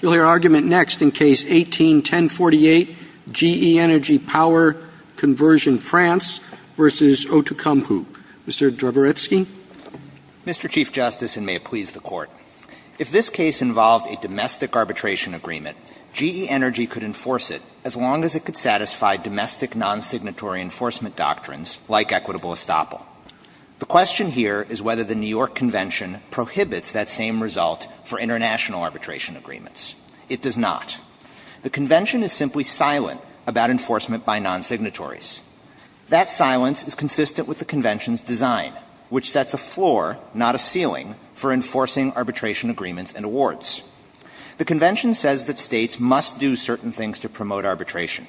You'll hear argument next in Case 18-1048, G.E. Energy Power Conversion France v. Outokumpu. Mr. Draboretsky? Mr. Chief Justice, and may it please the Court, if this case involved a domestic arbitration agreement, G.E. Energy could enforce it as long as it could satisfy domestic non-signatory enforcement doctrines like equitable estoppel. The question here is whether the New York Convention prohibits that same result for international arbitration agreements. It does not. The Convention is simply silent about enforcement by non-signatories. That silence is consistent with the Convention's design, which sets a floor, not a ceiling, for enforcing arbitration agreements and awards. The Convention says that states must do certain things to promote arbitration.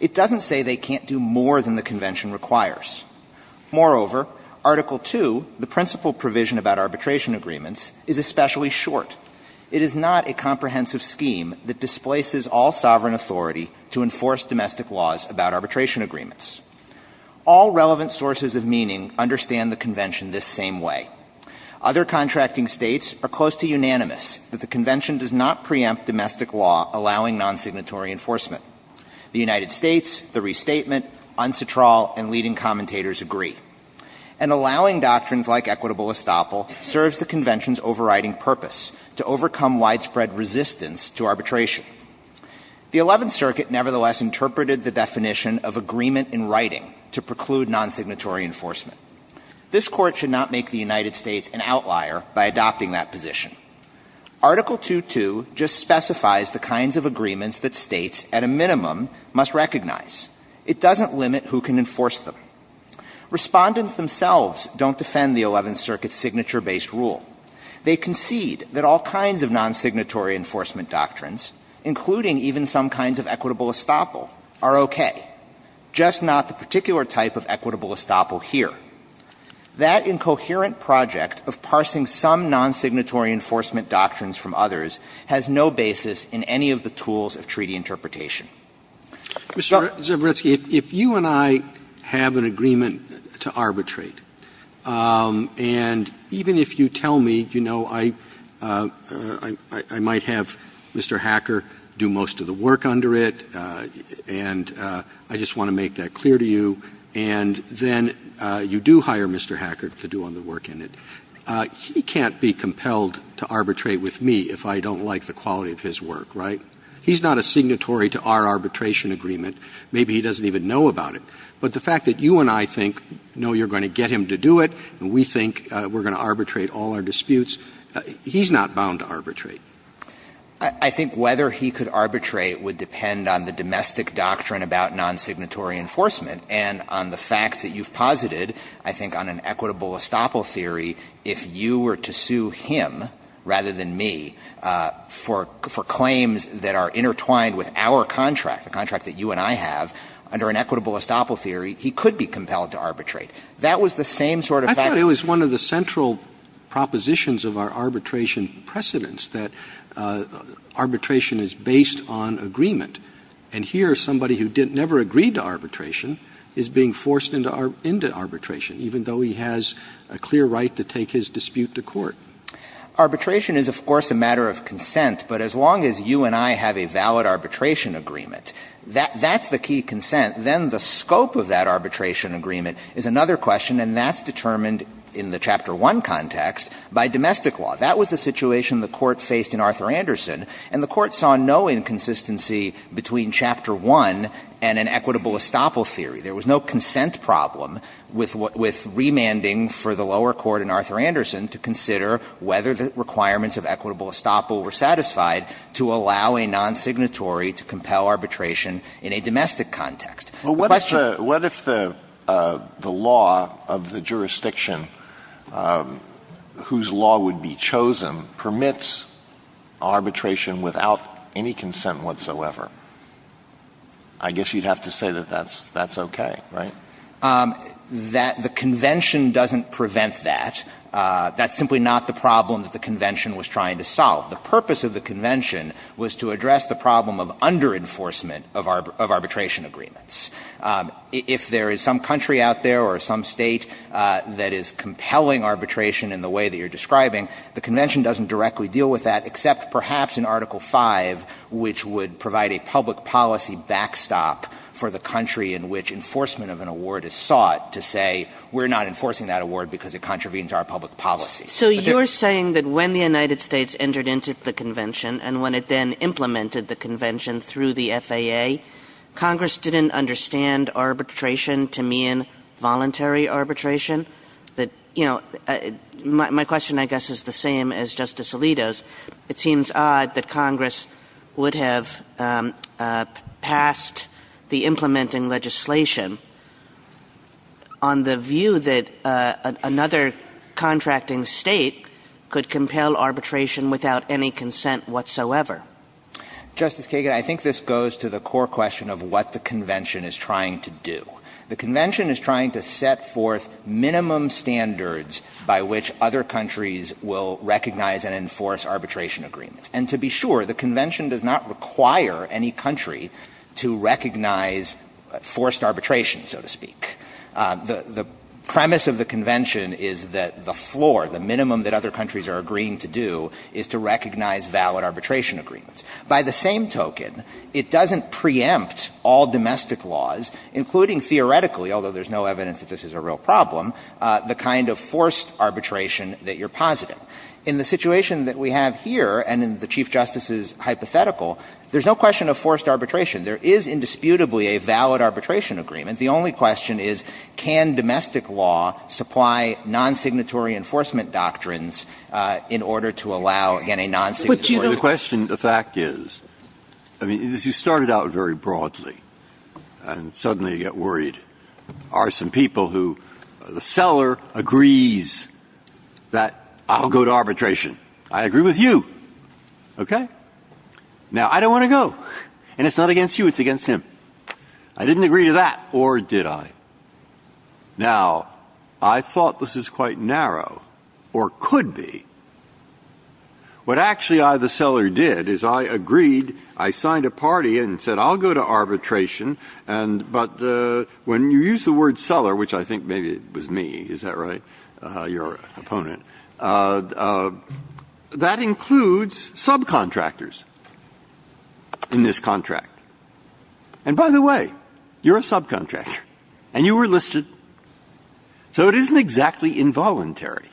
It doesn't say they can't do more than the Convention requires. Moreover, Article II, the principal provision about arbitration agreements, is especially short. It is not a comprehensive scheme that displaces all sovereign authority to enforce domestic laws about arbitration agreements. All relevant sources of meaning understand the Convention this same way. Other contracting states are close to unanimous that the Convention does not preempt domestic law allowing non-signatory enforcement. The United States, the restatement, unsatural, and leading commentators agree. And allowing doctrines like equitable estoppel serves the Convention's overriding purpose, to overcome widespread resistance to arbitration. The Eleventh Circuit nevertheless interpreted the definition of agreement in writing to preclude non-signatory enforcement. This Court should not make the United States an outlier by adopting that position. Article II.2 just specifies the kinds of agreements that states, at a minimum, must recognize. It doesn't limit who can enforce them. Respondents themselves don't defend the Eleventh Circuit's signature-based rule. They concede that all kinds of non-signatory enforcement doctrines, including even some kinds of equitable estoppel, are okay, just not the particular type of equitable estoppel here. That incoherent project of parsing some non-signatory enforcement doctrines from others has no basis in any of the tools of treaty interpretation. Roberts, if you and I have an agreement to arbitrate, and even if you tell me, you know, I might have Mr. Hacker do most of the work under it, and I just want to make that clear to you, and then you do hire Mr. Hacker to do all the work in it, he can't be compelled to arbitrate with me if I don't like the quality of his work, right? He's not a signatory to our arbitration agreement. Maybe he doesn't even know about it. But the fact that you and I think, no, you're going to get him to do it, and we think we're going to arbitrate all our disputes, he's not bound to arbitrate. I think whether he could arbitrate would depend on the domestic doctrine about non-signatory enforcement and on the fact that you've posited, I think, on an equitable estoppel theory, if you were to sue him, rather than me, for claims that are intertwined with our contract, the contract that you and I have, under an equitable estoppel theory, he could be compelled to arbitrate. That was the same sort of fact that you and I have. Arbitration is based on agreement. And here, somebody who never agreed to arbitration is being forced into arbitration, even though he has a clear right to take his dispute to court. Arbitration is, of course, a matter of consent. But as long as you and I have a valid arbitration agreement, that's the key consent. Then the scope of that arbitration agreement is another question, and that's determined in the Chapter 1 context by domestic law. That was the situation the Court faced in Arthur Andersen, and the Court saw no inconsistency between Chapter 1 and an equitable estoppel theory. There was no consent problem with remanding for the lower court in Arthur Andersen to consider whether the requirements of equitable estoppel were satisfied to allow a non-signatory to compel arbitration in a domestic context. The question was, what if the law of the jurisdiction, whose law would be chosen, permits arbitration without any consent whatsoever? I guess you'd have to say that that's okay, right? That the Convention doesn't prevent that. That's simply not the problem that the Convention was trying to solve. The purpose of the Convention was to address the problem of under-enforcement of arbitration agreements. If there is some country out there or some State that is compelling arbitration in the way that you're describing, the Convention doesn't directly deal with that except perhaps in Article 5, which would provide a public policy backstop for the country in which enforcement of an award is sought to say, we're not enforcing that award because it contravenes our public policy. So you're saying that when the United States entered into the Convention and when it then implemented the Convention through the FAA, Congress didn't understand arbitration to mean voluntary arbitration? That, you know, my question, I guess, is the same as Justice Alito's. It seems odd that Congress would have passed the implementing legislation on the view that another contracting State could compel arbitration without any consent whatsoever. Justice Kagan, I think this goes to the core question of what the Convention is trying to do. The Convention is trying to set forth minimum standards by which other countries will recognize and enforce arbitration agreements. And to be sure, the Convention does not require any country to recognize forced arbitration, so to speak. The premise of the Convention is that the floor, the minimum that other countries are agreeing to do, is to recognize valid arbitration agreements. By the same token, it doesn't preempt all domestic laws, including theoretically although there's no evidence that this is a real problem, the kind of forced arbitration that you're positive. In the situation that we have here and in the Chief Justice's hypothetical, there's no question of forced arbitration. There is indisputably a valid arbitration agreement. The only question is, can domestic law supply non-signatory enforcement doctrines in order to allow, again, a non-signatory law? And the fact is, I mean, this is started out very broadly, and suddenly you get worried are some people who the seller agrees that I'll go to arbitration. I agree with you. Okay? Now, I don't want to go. And it's not against you. It's against him. I didn't agree to that, or did I? Now, I thought this is quite narrow, or could be. What actually I, the seller, did is I agreed, I signed a party, and said I'll go to arbitration, but when you use the word seller, which I think maybe it was me, is that right, your opponent, that includes subcontractors in this contract. And by the way, you're a subcontractor, and you were listed, so it isn't exactly involuntary.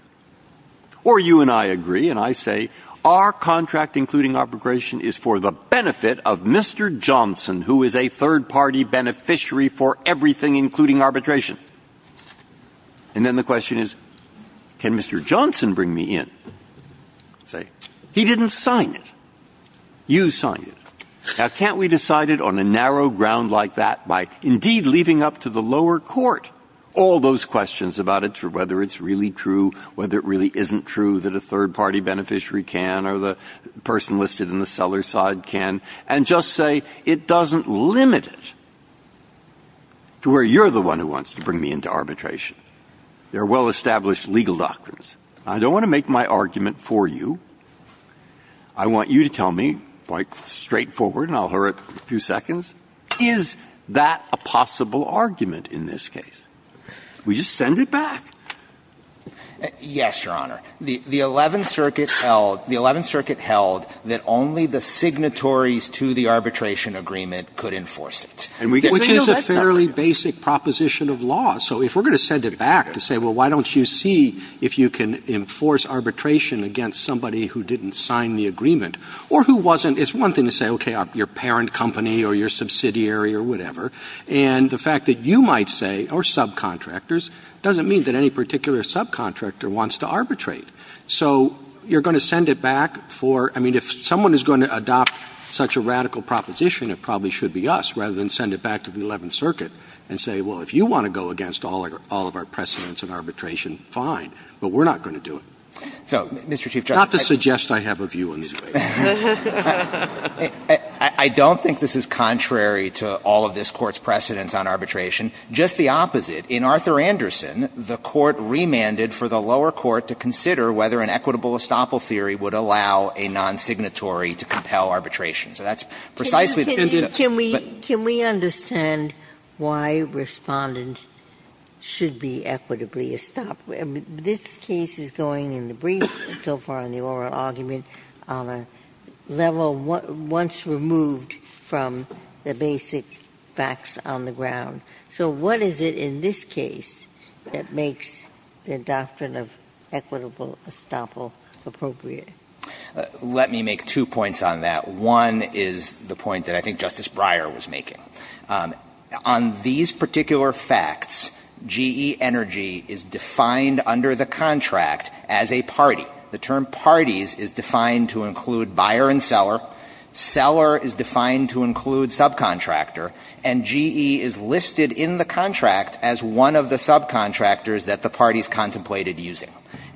Or you and I agree, and I say our contract, including arbitration, is for the benefit of Mr. Johnson, who is a third-party beneficiary for everything including arbitration. And then the question is, can Mr. Johnson bring me in? Say, he didn't sign it. You signed it. Now, can't we decide it on a narrow ground like that by, indeed, leaving up to the whether it really isn't true that a third-party beneficiary can or the person listed in the seller side can, and just say it doesn't limit it to where you're the one who wants to bring me into arbitration? There are well-established legal doctrines. I don't want to make my argument for you. I want you to tell me, quite straightforward, and I'll hurry up a few seconds, is that a possible argument in this case? Will you send it back? Yes, Your Honor. The Eleventh Circuit held, the Eleventh Circuit held that only the signatories to the arbitration agreement could enforce it. And we get to say no, that's not right. Which is a fairly basic proposition of law. So if we're going to send it back to say, well, why don't you see if you can enforce arbitration against somebody who didn't sign the agreement or who wasn't, it's one thing to say, okay, your parent company or your subsidiary or whatever. And the fact that you might say, or subcontractors, doesn't mean that any particular subcontractor wants to arbitrate. So you're going to send it back for – I mean, if someone is going to adopt such a radical proposition, it probably should be us, rather than send it back to the Eleventh Circuit and say, well, if you want to go against all of our precedents of arbitration, fine. But we're not going to do it. So, Mr. Chief Justice, I don't think this is contrary to all of this Court's precedents on arbitration, just the opposite. In Arthur Anderson, the Court remanded for the lower court to consider whether an equitable estoppel theory would allow a non-signatory to compel arbitration. So that's precisely the case. Ginsburg. Can we understand why Respondent should be equitably estoppel? This case is going, in the brief so far in the oral argument, on a level once removed from the basic facts on the ground. So what is it in this case that makes the doctrine of equitable estoppel appropriate? Let me make two points on that. One is the point that I think Justice Breyer was making. On these particular facts, GE Energy is defined under the contract as a party. The term parties is defined to include buyer and seller. Seller is defined to include subcontractor. And GE is listed in the contract as one of the subcontractors that the parties contemplated using.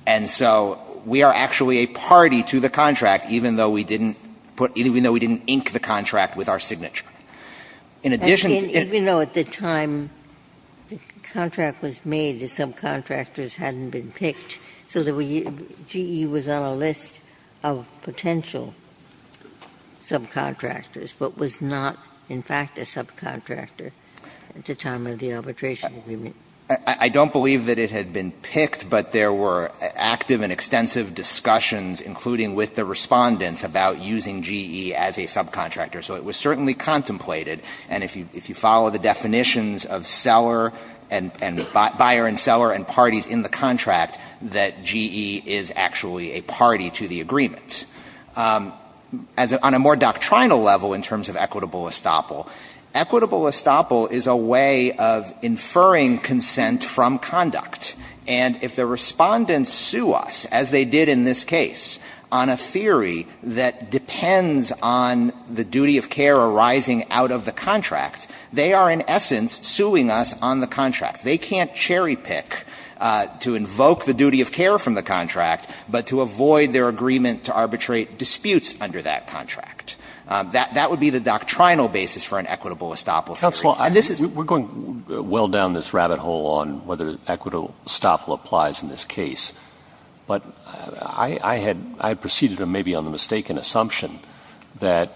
And so we are actually a party to the contract, even though we didn't put – even though we didn't ink the contract with our signature. In addition to the – Even though at the time the contract was made, the subcontractors hadn't been picked, so that we – GE was on a list of potential subcontractors, but was not, in fact, a subcontractor at the time of the arbitration agreement. I don't believe that it had been picked, but there were active and extensive discussions, including with the Respondents, about using GE as a subcontractor. So it was certainly contemplated, and if you follow the definitions of seller and buyer and seller and parties in the contract, that GE is actually a party to the agreement. As a – on a more doctrinal level, in terms of equitable estoppel, equitable estoppel is a way of inferring consent from conduct. And if the Respondents sue us, as they did in this case, on a theory that depends on the duty of care arising out of the contract, they are in essence suing us on the contract. They can't cherry-pick to invoke the duty of care from the contract, but to avoid their agreement to arbitrate disputes under that contract. That would be the doctrinal basis for an equitable estoppel theory. And this is – We're going well down this rabbit hole on whether equitable estoppel applies in this case, but I had – I had preceded him maybe on the mistaken assumption that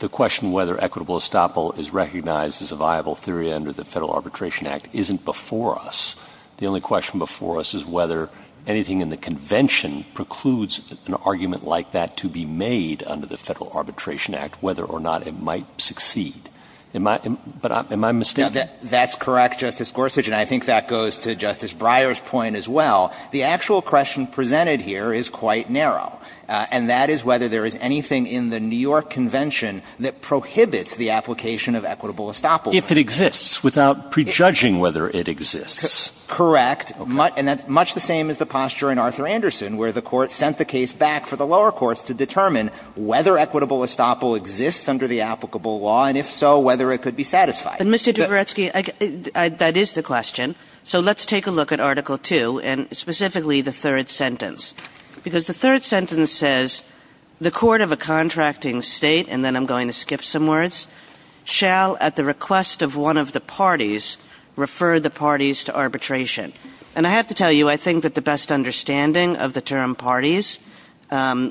the question whether equitable estoppel is recognized as a viable theory under the Federal Arbitration Act isn't before us. The only question before us is whether anything in the Convention precludes an argument like that to be made under the Federal Arbitration Act, whether or not it might succeed. Am I – but am I mistaken? That's correct, Justice Gorsuch, and I think that goes to Justice Breyer's point as well. The actual question presented here is quite narrow, and that is whether there is anything in the New York Convention that prohibits the application of equitable estoppel. If it exists, without prejudging whether it exists. Correct. And that's much the same as the posture in Arthur Anderson, where the Court sent the case back for the lower courts to determine whether equitable estoppel exists under the applicable law, and if so, whether it could be satisfied. But, Mr. Duvaretsky, that is the question. So let's take a look at Article 2, and specifically the third sentence, because the third sentence says, And I have to tell you, I think that the best understanding of the term parties,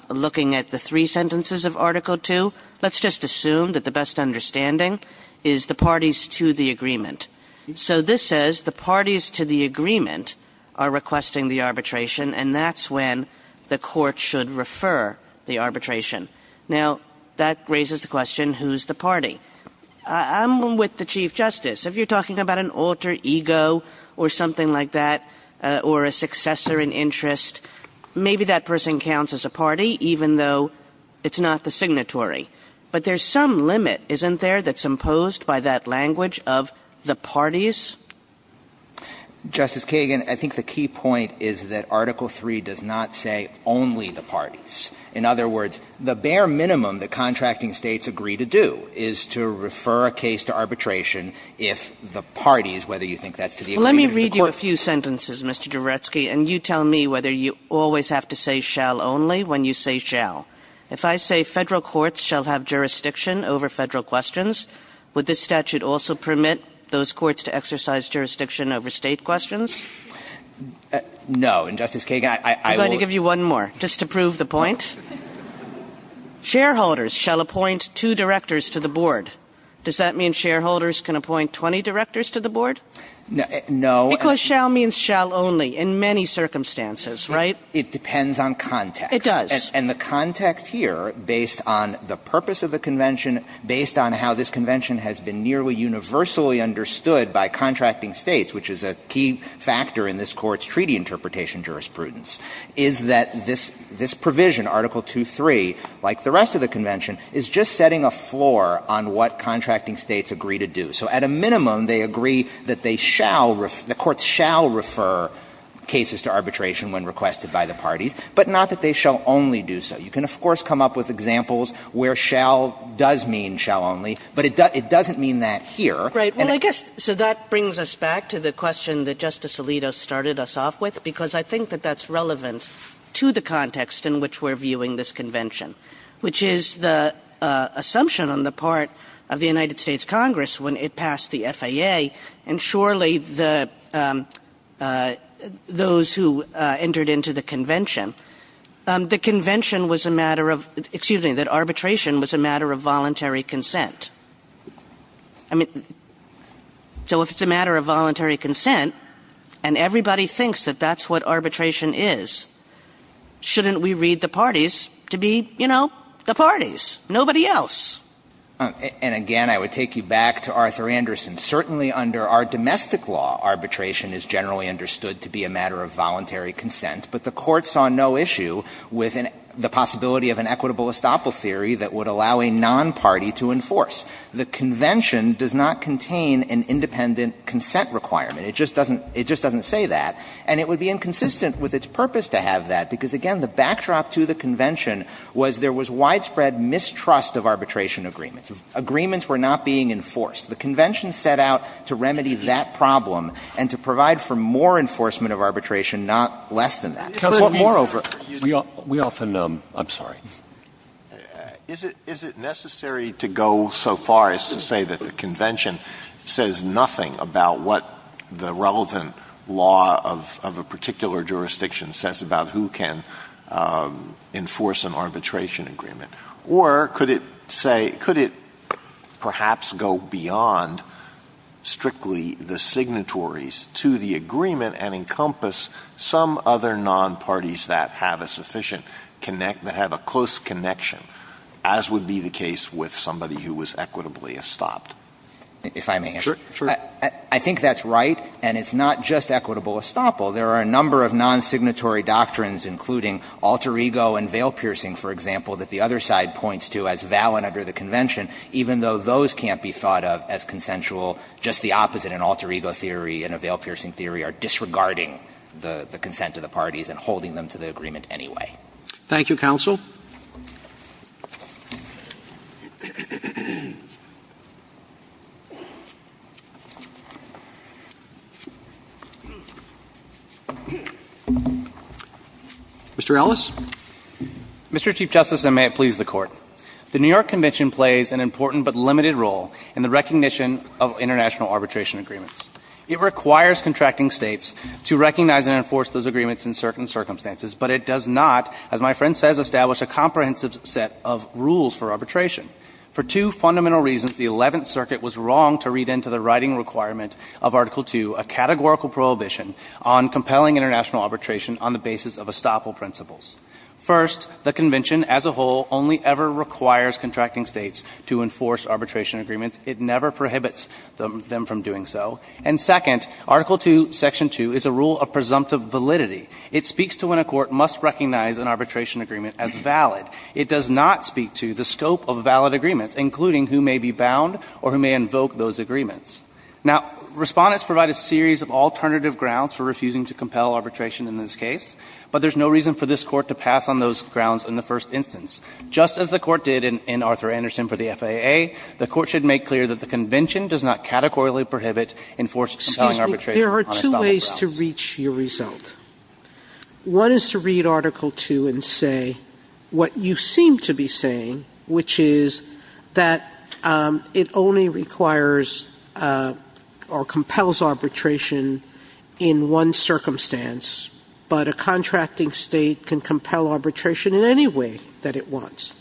looking at the three sentences of Article 2, let's just assume that the best understanding is the parties to the agreement. So this says the parties to the agreement are requesting the arbitration, and that's Now, that raises the question, who's the party? I'm with the Chief Justice. If you're talking about an alter ego or something like that, or a successor in interest, maybe that person counts as a party, even though it's not the signatory. But there's some limit, isn't there, that's imposed by that language of the parties? Justice Kagan, I think the key point is that Article 3 does not say only the parties. In other words, the bare minimum that contracting states agree to do is to refer a case to arbitration if the parties, whether you think that's to the agreement of the court. Let me read you a few sentences, Mr. Duvaretsky, and you tell me whether you always have to say shall only when you say shall. If I say federal courts shall have jurisdiction over federal questions, would this statute also permit those courts to exercise jurisdiction over state questions? No. And, Justice Kagan, I will I'm going to give you one more, just to prove the point. Shareholders shall appoint two directors to the board. Does that mean shareholders can appoint 20 directors to the board? No. Because shall means shall only in many circumstances, right? It depends on context. It does. And the context here, based on the purpose of the convention, based on how this convention has been nearly universally understood by contracting states, which is a key factor in this Court's treaty interpretation jurisprudence, is that this provision, Article 2.3, like the rest of the convention, is just setting a floor on what contracting states agree to do. So at a minimum, they agree that they shall, the courts shall refer cases to arbitration when requested by the parties, but not that they shall only do so. You can, of course, come up with examples where shall does mean shall only, but it doesn't mean that here. Right. Well, I guess, so that brings us back to the question that Justice Alito started us off with, because I think that that's relevant to the context in which we're viewing this convention, which is the assumption on the part of the United States Congress when it passed the FAA, and surely the, those who entered into the convention, the convention was a matter of, excuse me, that arbitration was a matter of voluntary consent. I mean, so if it's a matter of voluntary consent, and everybody thinks that that's what arbitration is, shouldn't we read the parties to be, you know, the parties, nobody else? And again, I would take you back to Arthur Anderson. Certainly under our domestic law, arbitration is generally understood to be a matter of voluntary consent, but the Court saw no issue with the possibility of an equitable estoppel theory that would allow a non-party to enforce. The convention does not contain an independent consent requirement. It just doesn't, it just doesn't say that. And it would be inconsistent with its purpose to have that, because, again, the backdrop to the convention was there was widespread mistrust of arbitration agreements. Agreements were not being enforced. The convention set out to remedy that problem and to provide for more enforcement of arbitration, not less than that. Moreover, we often, I'm sorry. Is it necessary to go so far as to say that the convention says nothing about what the relevant law of a particular jurisdiction says about who can enforce an arbitration agreement? Or could it say, could it perhaps go beyond strictly the signatories to the agreement and encompass some other non-parties that have a sufficient connect, that have a clear close connection, as would be the case with somebody who was equitably estopped? If I may answer. I think that's right, and it's not just equitable estoppel. There are a number of non-signatory doctrines, including alter ego and veil-piercing, for example, that the other side points to as valid under the convention, even though those can't be thought of as consensual. Just the opposite, an alter ego theory and a veil-piercing theory are disregarding the consent of the parties and holding them to the agreement anyway. Thank you, counsel. Mr. Ellis. Mr. Chief Justice, and may it please the Court. The New York Convention plays an important but limited role in the recognition of international arbitration agreements. It requires contracting States to recognize and enforce those agreements in certain ways, but, as my friend says, establish a comprehensive set of rules for arbitration. For two fundamental reasons, the Eleventh Circuit was wrong to read into the writing requirement of Article II, a categorical prohibition on compelling international arbitration on the basis of estoppel principles. First, the convention as a whole only ever requires contracting States to enforce arbitration agreements. It never prohibits them from doing so. And second, Article II, Section 2, is a rule of presumptive validity. It speaks to when a court must recognize an arbitration agreement as valid. It does not speak to the scope of valid agreements, including who may be bound or who may invoke those agreements. Now, Respondents provide a series of alternative grounds for refusing to compel arbitration in this case, but there's no reason for this Court to pass on those grounds in the first instance. Just as the Court did in Arthur Anderson for the FAA, the Court should make clear that the convention does not categorically prohibit enforced compelling arbitration on estoppel grounds. Sotomayor, I have two ways to reach your result. One is to read Article II and say what you seem to be saying, which is that it only requires or compels arbitration in one circumstance, but a contracting State can compel arbitration in any way that it wants,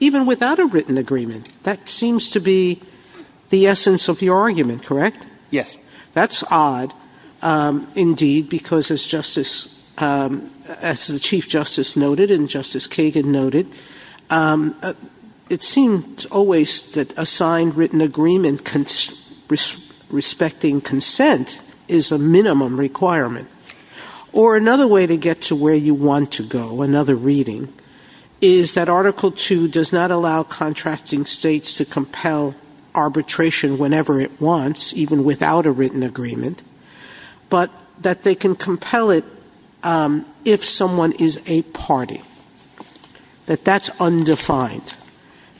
even without a written agreement. That seems to be the essence of your argument, correct? Yes. That's odd. Indeed, because as the Chief Justice noted and Justice Kagan noted, it seems always that a signed written agreement respecting consent is a minimum requirement. Or another way to get to where you want to go, another reading, is that Article II does not allow contracting States to compel arbitration whenever it wants, even without a written agreement, but that they can compel it if someone is a party, that that's undefined.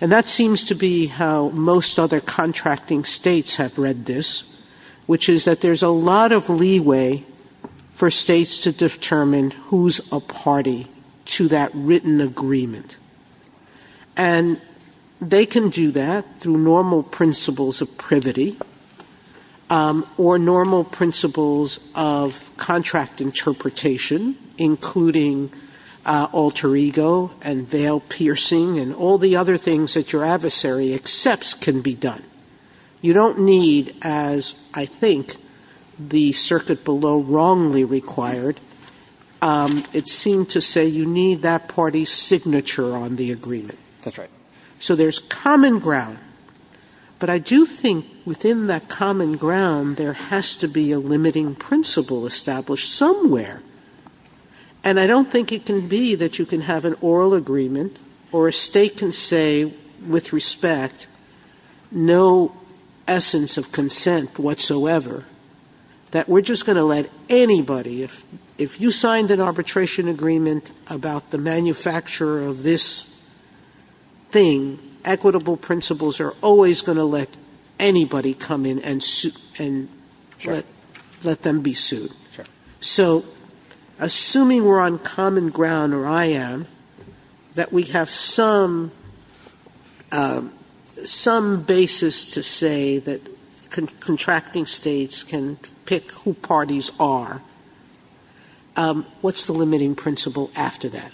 And that seems to be how most other contracting States have read this, which is that there's a lot of leeway for States to determine who's a party to that written agreement. And they can do that through normal principles of privity or normal principles of contract interpretation, including alter ego and veil piercing and all the other things that your adversary accepts can be done. You don't need, as I think the circuit below wrongly required, it seemed to say you need that party's signature on the agreement. That's right. So there's common ground. But I do think within that common ground there has to be a limiting principle established somewhere. And I don't think it can be that you can have an oral agreement or a State can say with respect no essence of consent whatsoever, that we're just going to let anybody if you signed an arbitration agreement about the manufacturer of this thing, equitable principles are always going to let anybody come in and let them be sued. So assuming we're on common ground, or I am, that we have some basis to say that what's the limiting principle after that?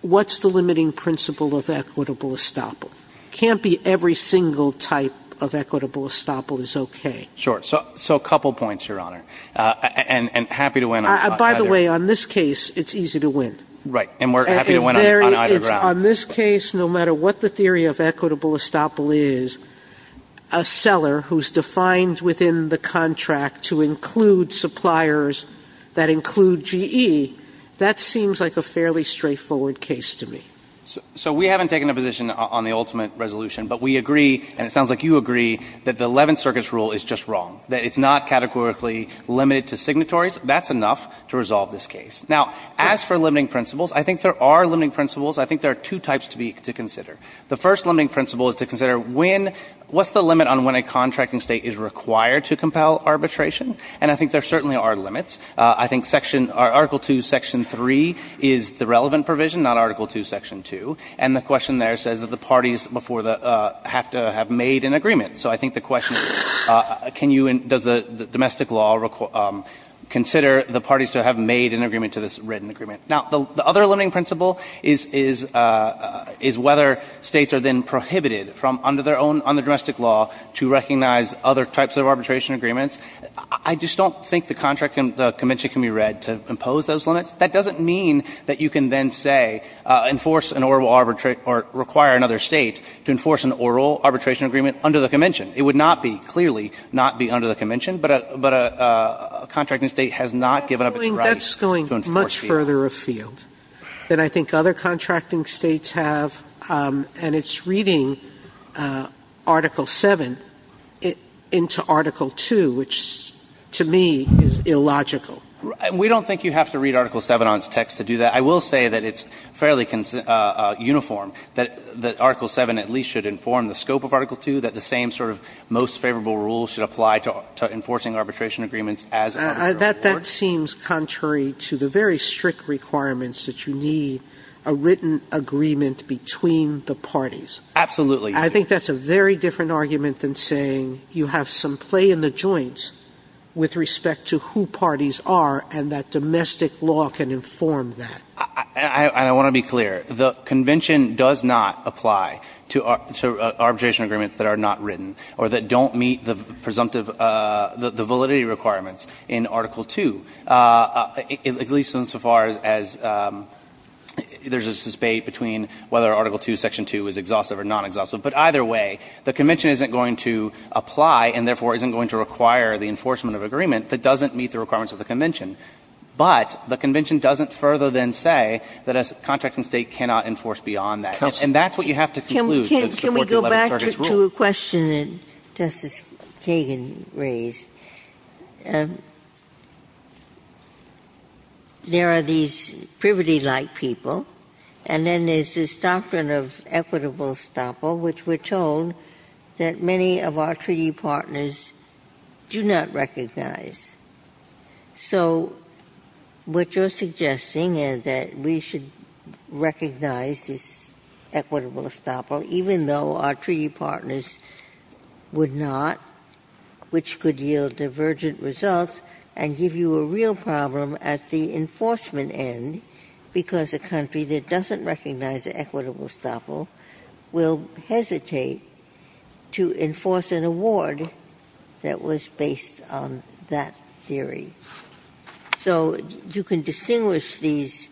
What's the limiting principle of equitable estoppel? It can't be every single type of equitable estoppel is okay. Sure. So a couple points, Your Honor. And happy to win on either. By the way, on this case it's easy to win. Right. And we're happy to win on either ground. On this case, no matter what the theory of equitable estoppel is, a seller who's GE, that seems like a fairly straightforward case to me. So we haven't taken a position on the ultimate resolution, but we agree, and it sounds like you agree, that the Eleventh Circuit's rule is just wrong, that it's not categorically limited to signatories. That's enough to resolve this case. Now, as for limiting principles, I think there are limiting principles. I think there are two types to consider. The first limiting principle is to consider when — what's the limit on when a contracting State is required to compel arbitration? And I think there certainly are limits. I think Article 2, Section 3 is the relevant provision, not Article 2, Section 2. And the question there says that the parties before the — have to have made an agreement. So I think the question is, can you — does the domestic law consider the parties to have made an agreement to this written agreement? Now, the other limiting principle is whether States are then prohibited from, under their own — under domestic law, to recognize other types of arbitration agreements. I just don't think the contracting — the convention can be read to impose those limits. That doesn't mean that you can then say, enforce an oral arbitration — or require another State to enforce an oral arbitration agreement under the convention. It would not be, clearly, not be under the convention. But a — but a contracting State has not given up its right to enforce the — Sotomayor, that's going much further afield than I think other contracting States have. And it's reading Article 7 into Article 2, which, to me, is illogical. We don't think you have to read Article 7 on its text to do that. I will say that it's fairly uniform, that Article 7 at least should inform the scope of Article 2, that the same sort of most favorable rules should apply to enforcing arbitration agreements as — Sotomayor, that seems contrary to the very strict requirements that you need a written agreement between the parties. Absolutely. I think that's a very different argument than saying you have some play in the joints with respect to who parties are and that domestic law can inform that. And I want to be clear. The convention does not apply to arbitration agreements that are not written or that don't meet the presumptive — the validity requirements in Article 2, at least insofar as there's a debate between whether Article 2, Section 2 is exhaustive or non-exhaustive. But either way, the convention isn't going to apply and therefore isn't going to require the enforcement of an agreement that doesn't meet the requirements of the convention. But the convention doesn't further than say that a contracting State cannot enforce beyond that. To a question that Justice Kagan raised, there are these privity-like people and then there's this doctrine of equitable estoppel, which we're told that many of our treaty partners do not recognize. So what you're suggesting is that we should recognize this equitable estoppel even though our treaty partners would not, which could yield divergent results and give you a real problem at the enforcement end because a country that doesn't recognize equitable estoppel will hesitate to enforce an award that was based on that theory. So you can distinguish these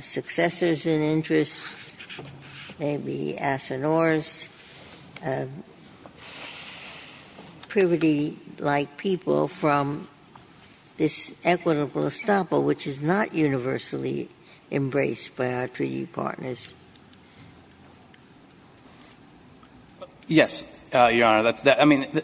successors in interest, maybe Assinores, privity-like people from this equitable estoppel, which is not universally embraced by our treaty partners. Yes, Your Honor. I mean,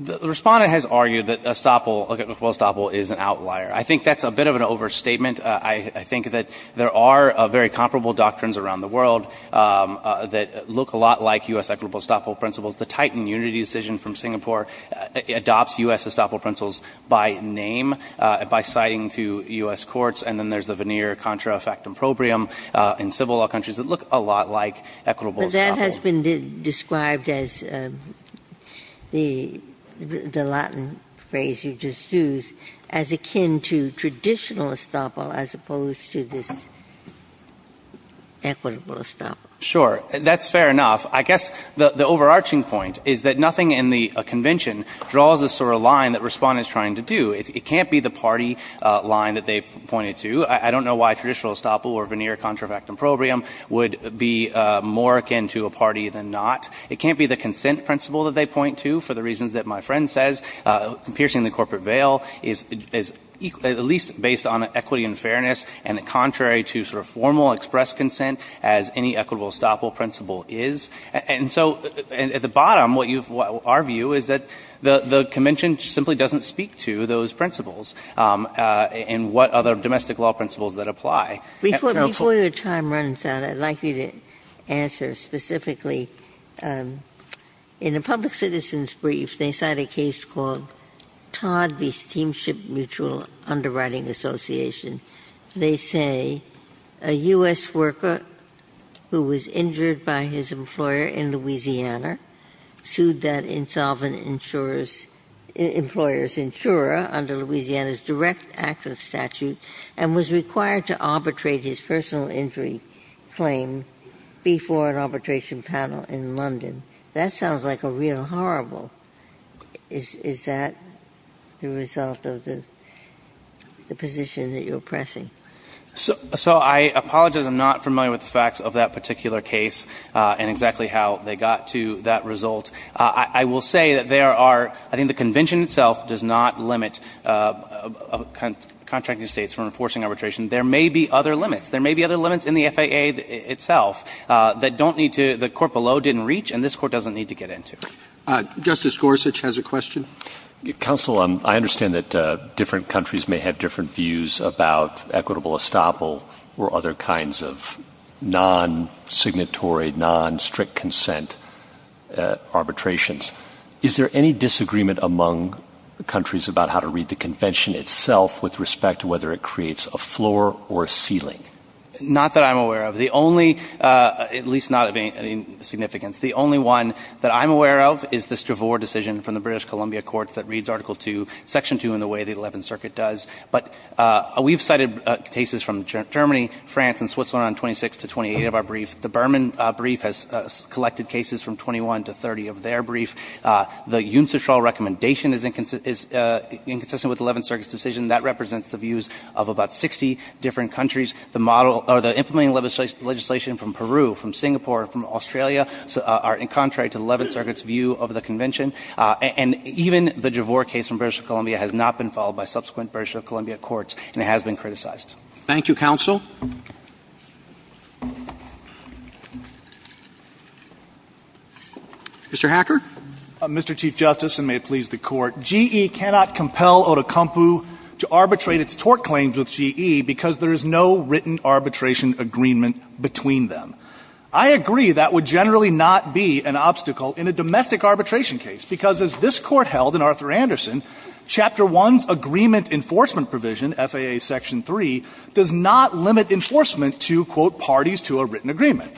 the Respondent has argued that estoppel, equitable estoppel, is an outlier. I think that's a bit of an overstatement. I think that there are very comparable doctrines around the world that look a lot like U.S. equitable estoppel principles. The Titan unity decision from Singapore adopts U.S. estoppel principles by name, by citing to U.S. courts. And then there's the veneer contra effect improbrium in civil law countries that look a lot like equitable estoppel. But that has been described as the Latin phrase you just used as akin to traditional estoppel as opposed to this equitable estoppel. Sure. That's fair enough. I guess the overarching point is that nothing in the convention draws the sort of line that Respondent is trying to do. It can't be the party line that they've pointed to. I don't know why traditional estoppel or veneer contra effect improbrium would be more akin to a party than not. It can't be the consent principle that they point to for the reasons that my friend says. Piercing the corporate veil is at least based on equity and fairness and contrary to sort of formal express consent as any equitable estoppel principle is. And so at the bottom, what you've – our view is that the convention simply doesn't speak to those principles and what other domestic law principles that apply. Ginsburg. Before your time runs out, I'd like you to answer specifically. In a public citizen's brief, they cite a case called Todd v. Steamship Mutual Underwriting Association. They say a U.S. worker who was injured by his employer in Louisiana sued that insolvent employer's insurer under Louisiana's direct access statute and was required to arbitrate his personal injury claim before an arbitration panel in London. That sounds like a real horrible – is that the result of the position that you're pressing? So I apologize. I'm not familiar with the facts of that particular case and exactly how they got to that result. I will say that there are – I think the convention itself does not limit contracting states from enforcing arbitration. There may be other limits. There may be other limits in the FAA itself that don't need to – the court below didn't reach and this court doesn't need to get into. Justice Gorsuch has a question. Counsel, I understand that different countries may have different views about equitable estoppel or other kinds of non-signatory, non-strict consent arbitrations. Is there any disagreement among the countries about how to read the convention itself with respect to whether it creates a floor or a ceiling? Not that I'm aware of. The only – at least not of any significance. The only one that I'm aware of is this Dravore decision from the British Columbia courts that reads Article 2, Section 2 in the way the Eleventh Circuit does. But we've cited cases from Germany, France, and Switzerland on 26 to 28 of our brief. The Berman brief has collected cases from 21 to 30 of their brief. The Jundtstraal recommendation is inconsistent with the Eleventh Circuit's decision. That represents the views of about 60 different countries. The model – or the implementing legislation from Peru, from Singapore, from Australia are in contrary to the Eleventh Circuit's view of the convention. And even the Dravore case from British Columbia has not been followed by subsequent British Columbia courts. And it has been criticized. Roberts. Thank you, counsel. Mr. Hacker. Mr. Chief Justice, and may it please the Court. GE cannot compel Otokumpu to arbitrate its tort claims with GE because there is no written arbitration agreement between them. I agree that would generally not be an obstacle in a domestic arbitration case, because as this Court held in Arthur Anderson, Chapter 1's agreement enforcement provision, FAA Section 3, does not limit enforcement to, quote, parties to a written agreement.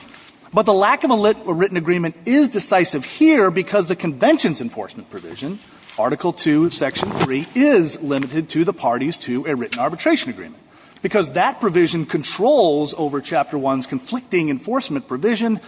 But the lack of a written agreement is decisive here because the convention's enforcement provision, Article 2, Section 3, is limited to the parties to a written enforcement provision.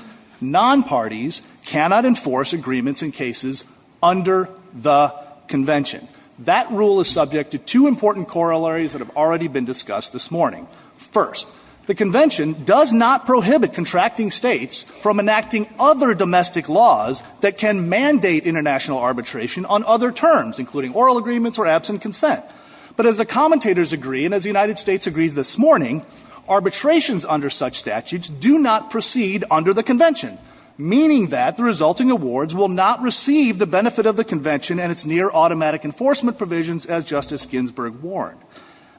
Nonparties cannot enforce agreements in cases under the convention. That rule is subject to two important corollaries that have already been discussed this morning. First, the convention does not prohibit contracting States from enacting other domestic laws that can mandate international arbitration on other terms, including oral agreements or absent consent. But as the commentators agree, and as the United States agreed this morning, arbitrations under such statutes do not proceed under the convention, meaning that the resulting awards will not receive the benefit of the convention and its near-automatic enforcement provisions as Justice Ginsburg warned.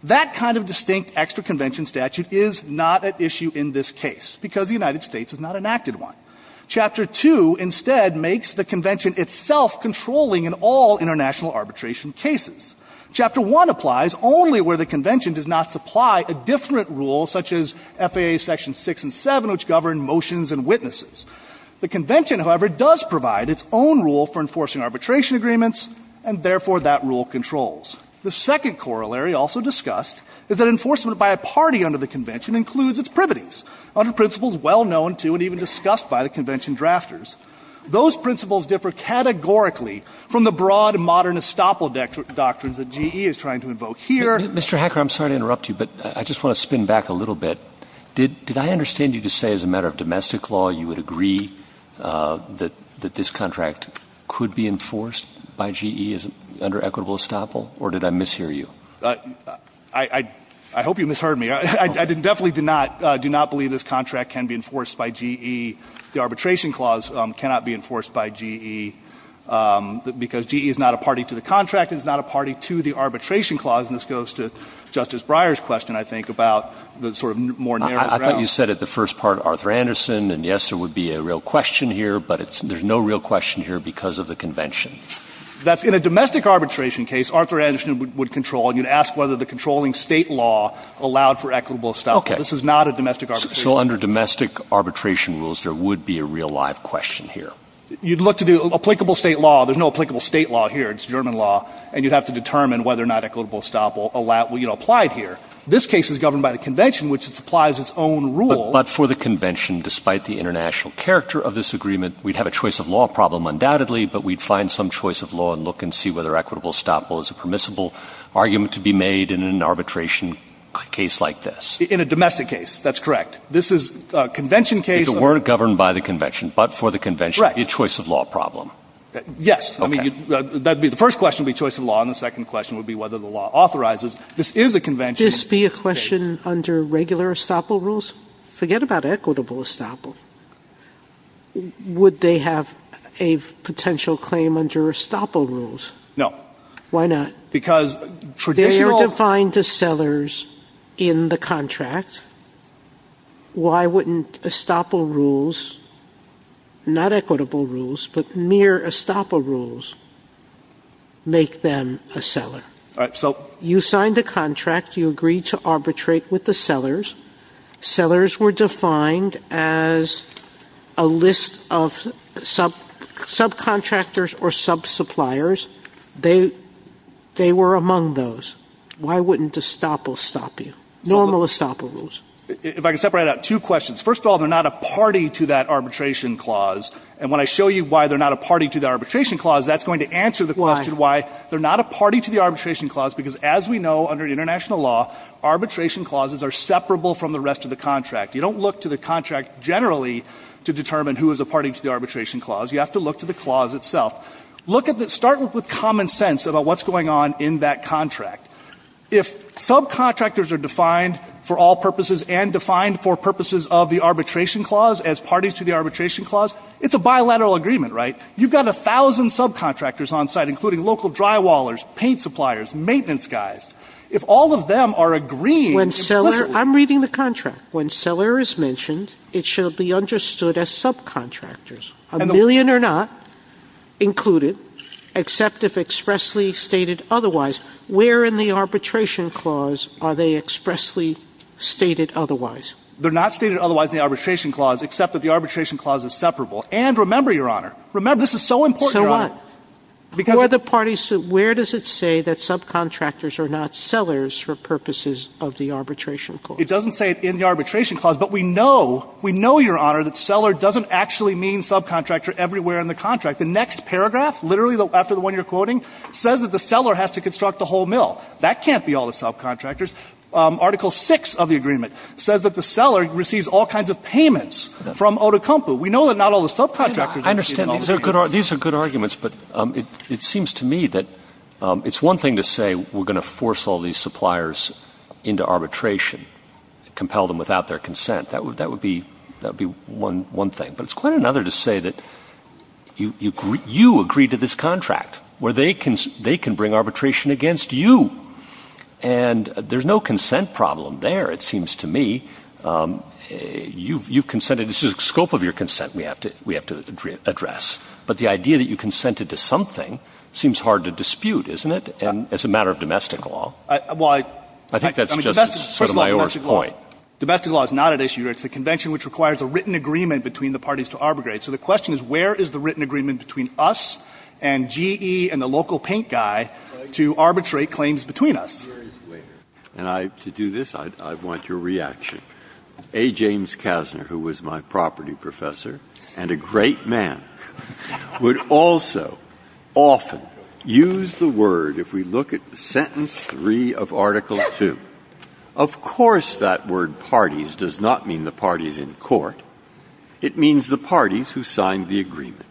That kind of distinct extra-convention statute is not at issue in this case because the United States has not enacted one. Chapter 2, instead, makes the convention itself controlling in all international arbitration cases. Chapter 1 applies only where the convention does not supply a different rule, such as FAA Sections 6 and 7, which govern motions and witnesses. The convention, however, does provide its own rule for enforcing arbitration agreements, and therefore that rule controls. The second corollary also discussed is that enforcement by a party under the convention includes its privities under principles well known to and even discussed by the convention drafters. Those principles differ categorically from the broad modern estoppel doctrines that GE is trying to invoke here. Mr. Hacker, I'm sorry to interrupt you, but I just want to spin back a little bit. Did I understand you to say as a matter of domestic law you would agree that this contract could be enforced by GE under equitable estoppel, or did I mishear you? I hope you misheard me. I definitely do not believe this contract can be enforced by GE. The arbitration clause cannot be enforced by GE because GE is not a party to the contract. It is not a party to the arbitration clause, and this goes to Justice Breyer's question, I think, about the sort of more narrow ground. I thought you said at the first part, Arthur Anderson, and yes, there would be a real question here, but there's no real question here because of the convention. That's in a domestic arbitration case, Arthur Anderson would control. He would ask whether the controlling State law allowed for equitable estoppel. Okay. This is not a domestic arbitration case. So under domestic arbitration rules, there would be a real live question here. You'd look to the applicable State law. There's no applicable State law here. It's German law, and you'd have to determine whether or not equitable estoppel applied here. This case is governed by the convention, which applies its own rule. But for the convention, despite the international character of this agreement, we'd have a choice of law problem undoubtedly, but we'd find some choice of law and look and see whether equitable estoppel is a permissible argument to be made in an arbitration case like this. In a domestic case. That's correct. This is a convention case. If it weren't governed by the convention, but for the convention. Correct. A choice of law problem. Yes. Okay. I mean, that would be the first question would be choice of law, and the second question would be whether the law authorizes. This is a convention case. Would this be a question under regular estoppel rules? Forget about equitable estoppel. Would they have a potential claim under estoppel rules? No. Why not? Because traditional. If they were defined as sellers in the contract, why wouldn't estoppel rules, not equitable rules, but mere estoppel rules, make them a seller? All right. So. You signed a contract. You agreed to arbitrate with the sellers. Sellers were defined as a list of subcontractors or subsuppliers. They were among those. Why wouldn't estoppel stop you? Normal estoppel rules. If I could separate out two questions. First of all, they're not a party to that arbitration clause. And when I show you why they're not a party to the arbitration clause, that's going to answer the question why. Why? They're not a party to the arbitration clause because, as we know, under international law, arbitration clauses are separable from the rest of the contract. You don't look to the contract generally to determine who is a party to the arbitration clause. You have to look to the clause itself. Look at the start with common sense about what's going on in that contract. If subcontractors are defined for all purposes and defined for purposes of the arbitration clause as parties to the arbitration clause, it's a bilateral agreement, right? You've got a thousand subcontractors on site, including local drywallers, paint suppliers, maintenance guys. If all of them are agreeing implicitly. Sotomayor I'm reading the contract. When seller is mentioned, it shall be understood as subcontractors. A million or not included, except if expressly stated otherwise. Where in the arbitration clause are they expressly stated otherwise? They're not stated otherwise in the arbitration clause, except that the arbitration clause is separable. And remember, Your Honor, remember, this is so important, Your Honor. So what? Because. Where does it say that subcontractors are not sellers for purposes of the arbitration clause? It doesn't say it in the arbitration clause, but we know, we know, Your Honor, that seller doesn't actually mean subcontractor everywhere in the contract. The next paragraph, literally after the one you're quoting, says that the seller has to construct the whole mill. That can't be all the subcontractors. Article VI of the agreement says that the seller receives all kinds of payments from Otokonpu. We know that not all the subcontractors are receiving all the payments. These are good arguments, but it seems to me that it's one thing to say we're going to force all these suppliers into arbitration, compel them without their consent. That would be one thing. But it's quite another to say that you agree to this contract, where they can bring arbitration against you. And there's no consent problem there, it seems to me. You've consented. This is the scope of your consent we have to address. But the idea that you consented to something seems hard to dispute, isn't it, as a matter of domestic law? I think that's just sort of my worst point. Domestic law is not at issue here. It's the convention which requires a written agreement between the parties to arbitrate. So the question is, where is the written agreement between us and GE and the local paint guy to arbitrate claims between us? Breyer. And I, to do this, I want your reaction. A. James Kasner, who was my property professor and a great man, would also often use the word, if we look at sentence 3 of Article II. Of course that word, parties, does not mean the parties in court. It means the parties who signed the agreement.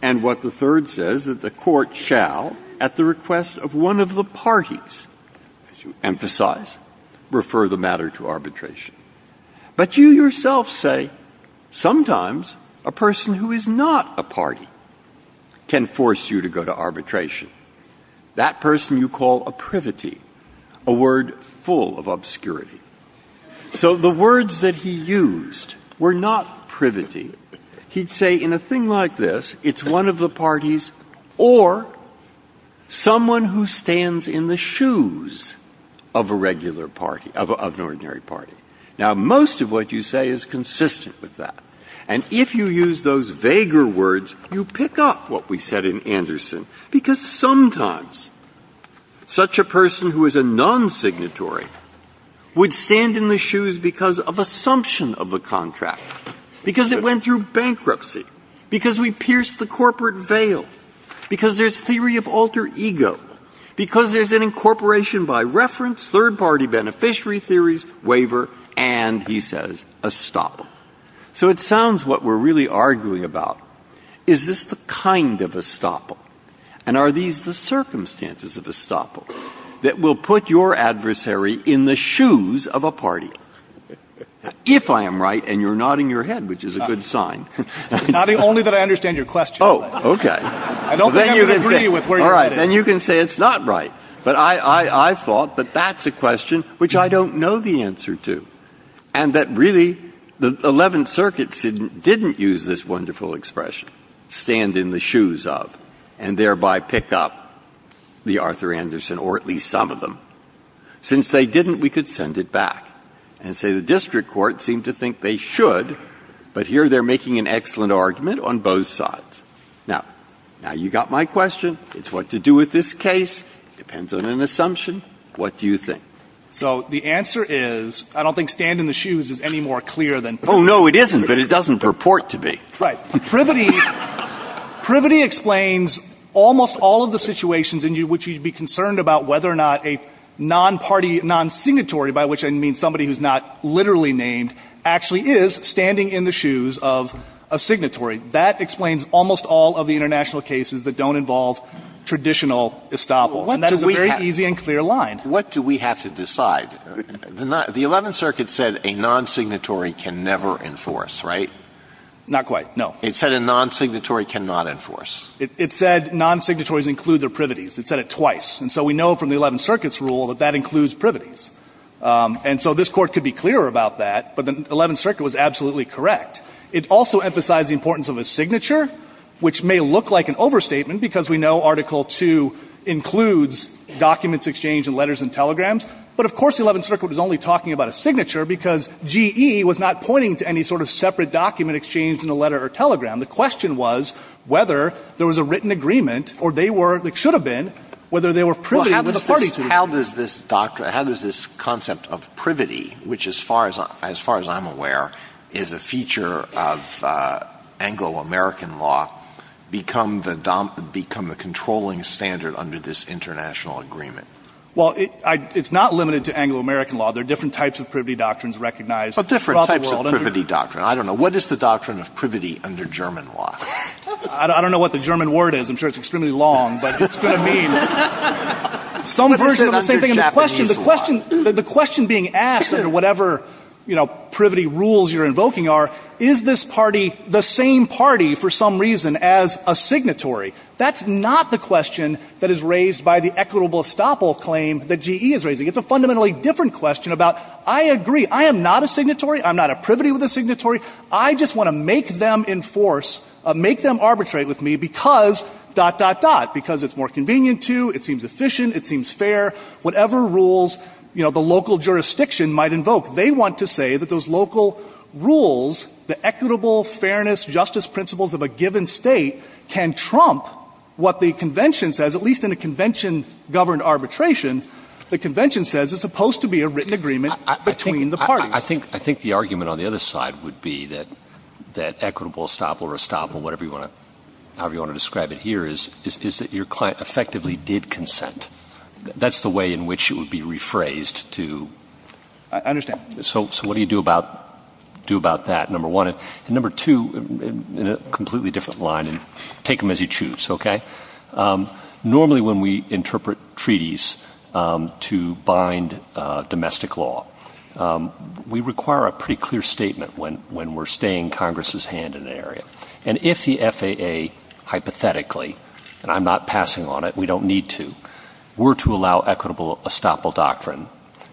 And what the third says, that the court shall, at the request of one of the parties, as you emphasize, refer the matter to arbitration. But you yourself say, sometimes a person who is not a party can force you to go to arbitration. That person you call a privity, a word full of obscurity. So the words that he used were not privity. He'd say in a thing like this, it's one of the parties or someone who stands in the shoes of a regular party, of an ordinary party. Now, most of what you say is consistent with that. And if you use those vaguer words, you pick up what we said in Anderson, because sometimes such a person who is a non-signatory would stand in the shoes because of assumption of the contract, because it went through bankruptcy, because we pierced the corporate veil, because there's theory of alter ego, because there's an incorporation by reference, third-party beneficiary theories, waiver, and, he says, estoppel. So it sounds what we're really arguing about. Is this the kind of estoppel? And are these the circumstances of estoppel that will put your adversary in the shoes of a party? If I am right, and you're nodding your head, which is a good sign. Roberts. Only that I understand your question. Breyer. Oh, okay. I don't think I can agree with where you're getting at. Breyer. All right. Then you can say it's not right. But I thought that that's a question which I don't know the answer to. And that really the Eleventh Circuit didn't use this wonderful expression, stand in the shoes of. And thereby pick up the Arthur Anderson, or at least some of them. Since they didn't, we could send it back and say the district court seemed to think they should, but here they're making an excellent argument on both sides. Now, you got my question. It's what to do with this case. Depends on an assumption. What do you think? So the answer is, I don't think stand in the shoes is any more clear than. Oh, no, it isn't. But it doesn't purport to be. Right. Privity explains almost all of the situations in which you'd be concerned about whether or not a non-party, non-signatory, by which I mean somebody who's not literally named, actually is standing in the shoes of a signatory. That explains almost all of the international cases that don't involve traditional estoppel. And that is a very easy and clear line. What do we have to decide? The Eleventh Circuit said a non-signatory can never enforce, right? Not quite, no. It said a non-signatory cannot enforce. It said non-signatories include their privities. It said it twice. And so we know from the Eleventh Circuit's rule that that includes privities. And so this Court could be clearer about that. But the Eleventh Circuit was absolutely correct. It also emphasized the importance of a signature, which may look like an overstatement because we know Article II includes documents exchanged in letters and telegrams. But, of course, the Eleventh Circuit was only talking about a signature because G.E. was not pointing to any sort of separate document exchanged in a letter or telegram. The question was whether there was a written agreement, or they were, it should have been, whether they were privity with the parties to it. Well, how does this concept of privity, which as far as I'm aware is a feature of Anglo-American law, become the controlling standard under this international agreement? Well, it's not limited to Anglo-American law. There are different types of privity doctrines recognized throughout the world. But different types of privity doctrine. I don't know. What is the doctrine of privity under German law? I don't know what the German word is. I'm sure it's extremely long. But it's going to mean some version of the same thing. The question being asked, or whatever, you know, privity rules you're invoking are, is this party the same party for some reason as a signatory? That's not the question that is raised by the equitable estoppel claim that G.E. is raising. It's a fundamentally different question about, I agree. I am not a signatory. I'm not a privity with a signatory. I just want to make them enforce, make them arbitrate with me because, dot, dot, dot, because it's more convenient to, it seems efficient, it seems fair, whatever rules, you know, the local jurisdiction might invoke. They want to say that those local rules, the equitable fairness justice principles of a given state can trump what the convention says, at least in a convention governed arbitration. The convention says it's supposed to be a written agreement between the parties. I think the argument on the other side would be that equitable estoppel, restoppel, whatever you want to, however you want to describe it here, is that your client effectively did consent. That's the way in which it would be rephrased to. I understand. So what do you do about that, number one? And number two, in a completely different line, and take them as you choose, okay? Normally when we interpret treaties to bind domestic law, we require a pretty clear statement when we're staying Congress's hand in an area. And if the FAA hypothetically, and I'm not passing on it, we don't need to, were to allow equitable estoppel doctrine,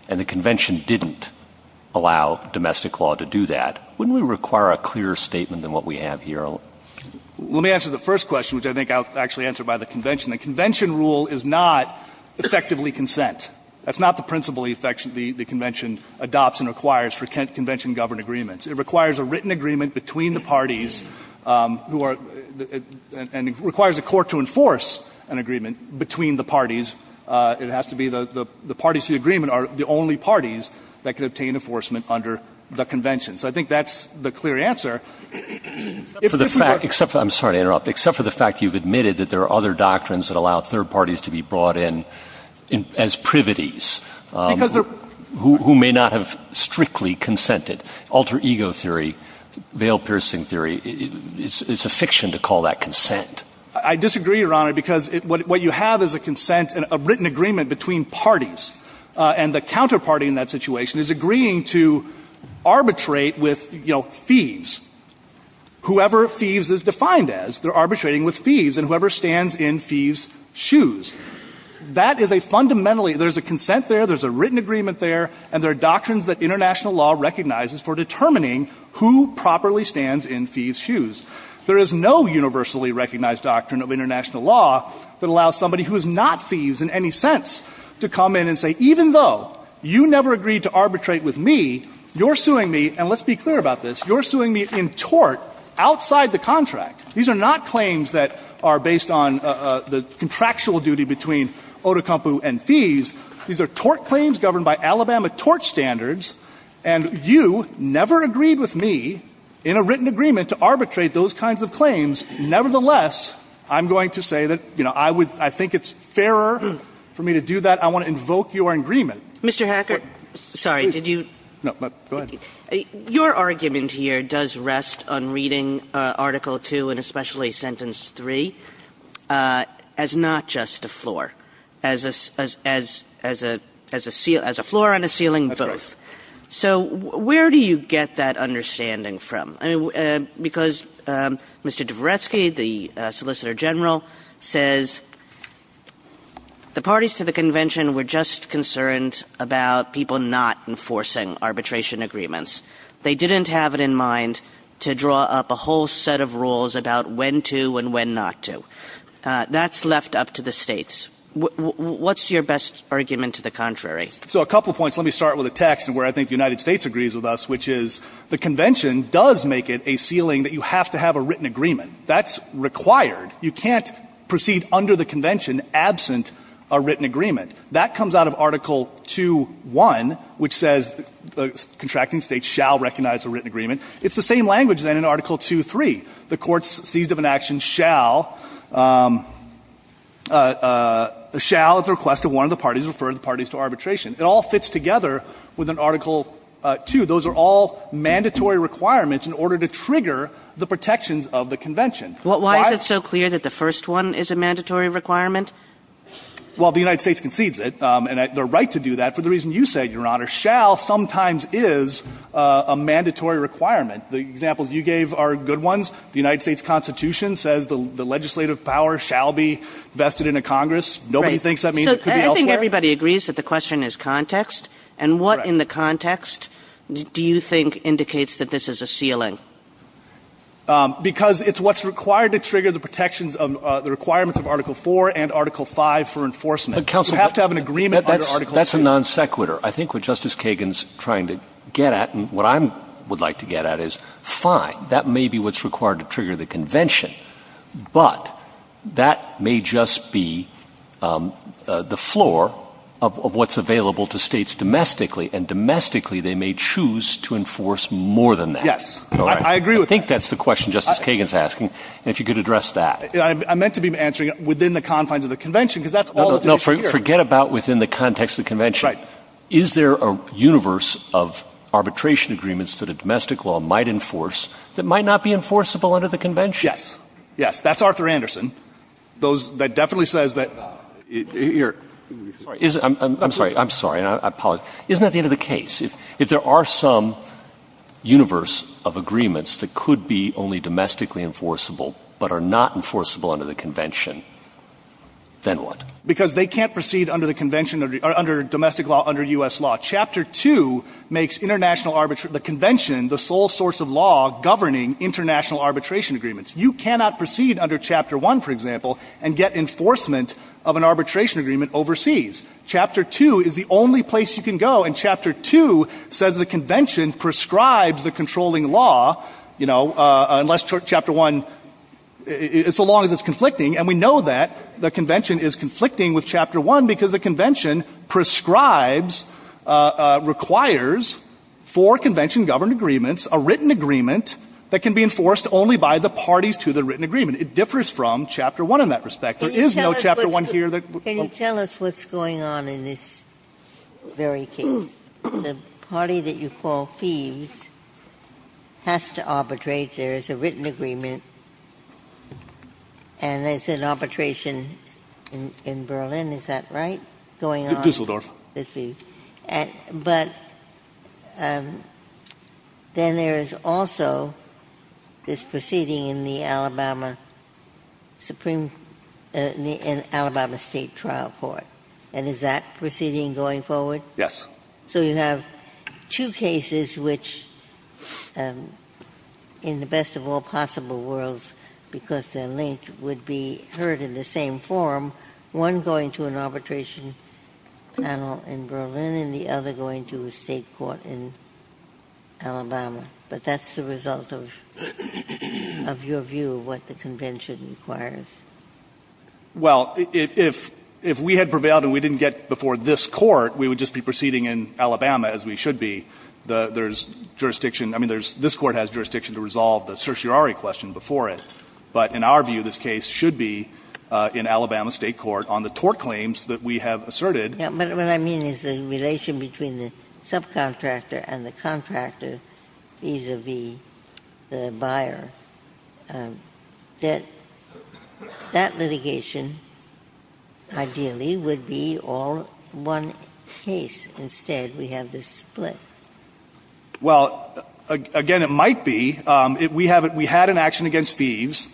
and the convention didn't allow domestic law to do that, wouldn't we require a clearer statement than what we have here? Well, let me answer the first question, which I think I'll actually answer by the convention. The convention rule is not effectively consent. That's not the principle the convention adopts and requires for convention governed agreements. It requires a written agreement between the parties, and it requires a court to enforce an agreement between the parties. It has to be the parties to the agreement are the only parties that can obtain enforcement under the convention. So I think that's the clear answer. Except for the fact, I'm sorry to interrupt, except for the fact you've admitted that there are other doctrines that allow third parties to be brought in as privities who may not have strictly consented. Alter ego theory, veil-piercing theory, it's a fiction to call that consent. I disagree, Your Honor, because what you have is a consent, a written agreement between parties, and the counterparty in that situation is agreeing to arbitrate with, you know, thieves. Whoever thieves is defined as, they're arbitrating with thieves, and whoever stands in thieves' shoes. That is a fundamentally, there's a consent there, there's a written agreement there, and there are doctrines that international law recognizes for determining who properly stands in thieves' shoes. There is no universally recognized doctrine of international law that allows somebody who is not thieves in any sense to come in and say, even though you never agreed to arbitrate with me, you're suing me, and let's be clear about this, you're suing me in tort outside the contract. These are not claims that are based on the contractual duty between Odukampu and thieves. These are tort claims governed by Alabama tort standards, and you never agreed with me in a written agreement to arbitrate those kinds of claims. Nevertheless, I'm going to say that, you know, I would, I think it's fairer for me to do that. I want to invoke your agreement. Kagan. Mr. Hacker, sorry, did you? No, go ahead. Your argument here does rest on reading Article 2, and especially Sentence 3, as not just a floor, as a, as a, as a, as a floor on a ceiling, both. That's right. So where do you get that understanding from? I mean, because Mr. Dvoretsky, the Solicitor General, says the parties to the convention were just concerned about people not enforcing arbitration agreements. They didn't have it in mind to draw up a whole set of rules about when to and when not to. That's left up to the states. What's your best argument to the contrary? So a couple points. Let me start with a text and where I think the United States agrees with us, which is the convention does make it a ceiling that you have to have a written agreement. That's required. You can't proceed under the convention absent a written agreement. That comes out of Article 2.1, which says the contracting states shall recognize a written agreement. It's the same language, then, in Article 2.3. The courts seized of an action shall, shall at the request of one of the parties refer the parties to arbitration. It all fits together with an Article 2. Those are all mandatory requirements in order to trigger the protections of the convention. Why is it so clear that the first one is a mandatory requirement? Well, the United States concedes it, and they're right to do that for the reason you said, Your Honor. Shall sometimes is a mandatory requirement. The examples you gave are good ones. The United States Constitution says the legislative power shall be vested in a Congress. Nobody thinks that means it could be elsewhere. So I think everybody agrees that the question is context. Correct. And what in the context do you think indicates that this is a ceiling? Because it's what's required to trigger the protections of the requirements of Article 4 and Article 5 for enforcement. You have to have an agreement under Article 2. But, Counselor, that's a non sequitur. I think what Justice Kagan's trying to get at and what I would like to get at is, fine, that may be what's required to trigger the convention, but that may just be the floor of what's available to States domestically, and domestically they may choose to enforce more than that. Yes. I agree with that. I think that's the question Justice Kagan's asking, and if you could address that. I meant to be answering within the confines of the convention, because that's all that's at issue here. No, forget about within the context of the convention. Right. Is there a universe of arbitration agreements that a domestic law might enforce that might not be enforceable under the convention? Yes. Yes. That's Arthur Anderson. That definitely says that you're sorry. I'm sorry. I'm sorry. I apologize. Isn't that the end of the case? If there are some universe of agreements that could be only domestically enforceable, but are not enforceable under the convention, then what? Because they can't proceed under the convention, under domestic law, under U.S. law. Chapter 2 makes international arbitration, the convention, the sole source of law governing international arbitration agreements. You cannot proceed under Chapter 1, for example, and get enforcement of an arbitration agreement overseas. Chapter 2 is the only place you can go, and Chapter 2 says the convention prescribes the controlling law, you know, unless Chapter 1, so long as it's conflicting. And we know that the convention is conflicting with Chapter 1 because the convention prescribes, requires, for convention-governed agreements, a written agreement that can be enforced only by the parties to the written agreement. It differs from Chapter 1 in that respect. There is no Chapter 1 here. Can you tell us what's going on in this very case? The party that you call Thieves has to arbitrate. There is a written agreement, and there's an arbitration in Berlin, is that right, going on? Düsseldorf. But then there is also this proceeding in the Alabama Supreme — in Alabama State Trial Court. And is that proceeding going forward? Yes. So you have two cases which, in the best of all possible worlds, because they're linked, would be heard in the same forum, one going to an arbitration panel in Berlin and the other going to a state court in Alabama. But that's the result of your view of what the convention requires. Well, if we had prevailed and we didn't get before this Court, we would just be proceeding in Alabama, as we should be. There's jurisdiction — I mean, there's — this Court has jurisdiction to resolve the certiorari question before it. But in our view, this case should be in Alabama State Court on the tort claims that we have asserted. But what I mean is the relation between the subcontractor and the contractor vis-a-vis the buyer, that that litigation ideally would be all one case. Instead, we have this split. Well, again, it might be. We have — we had an action against Thieves,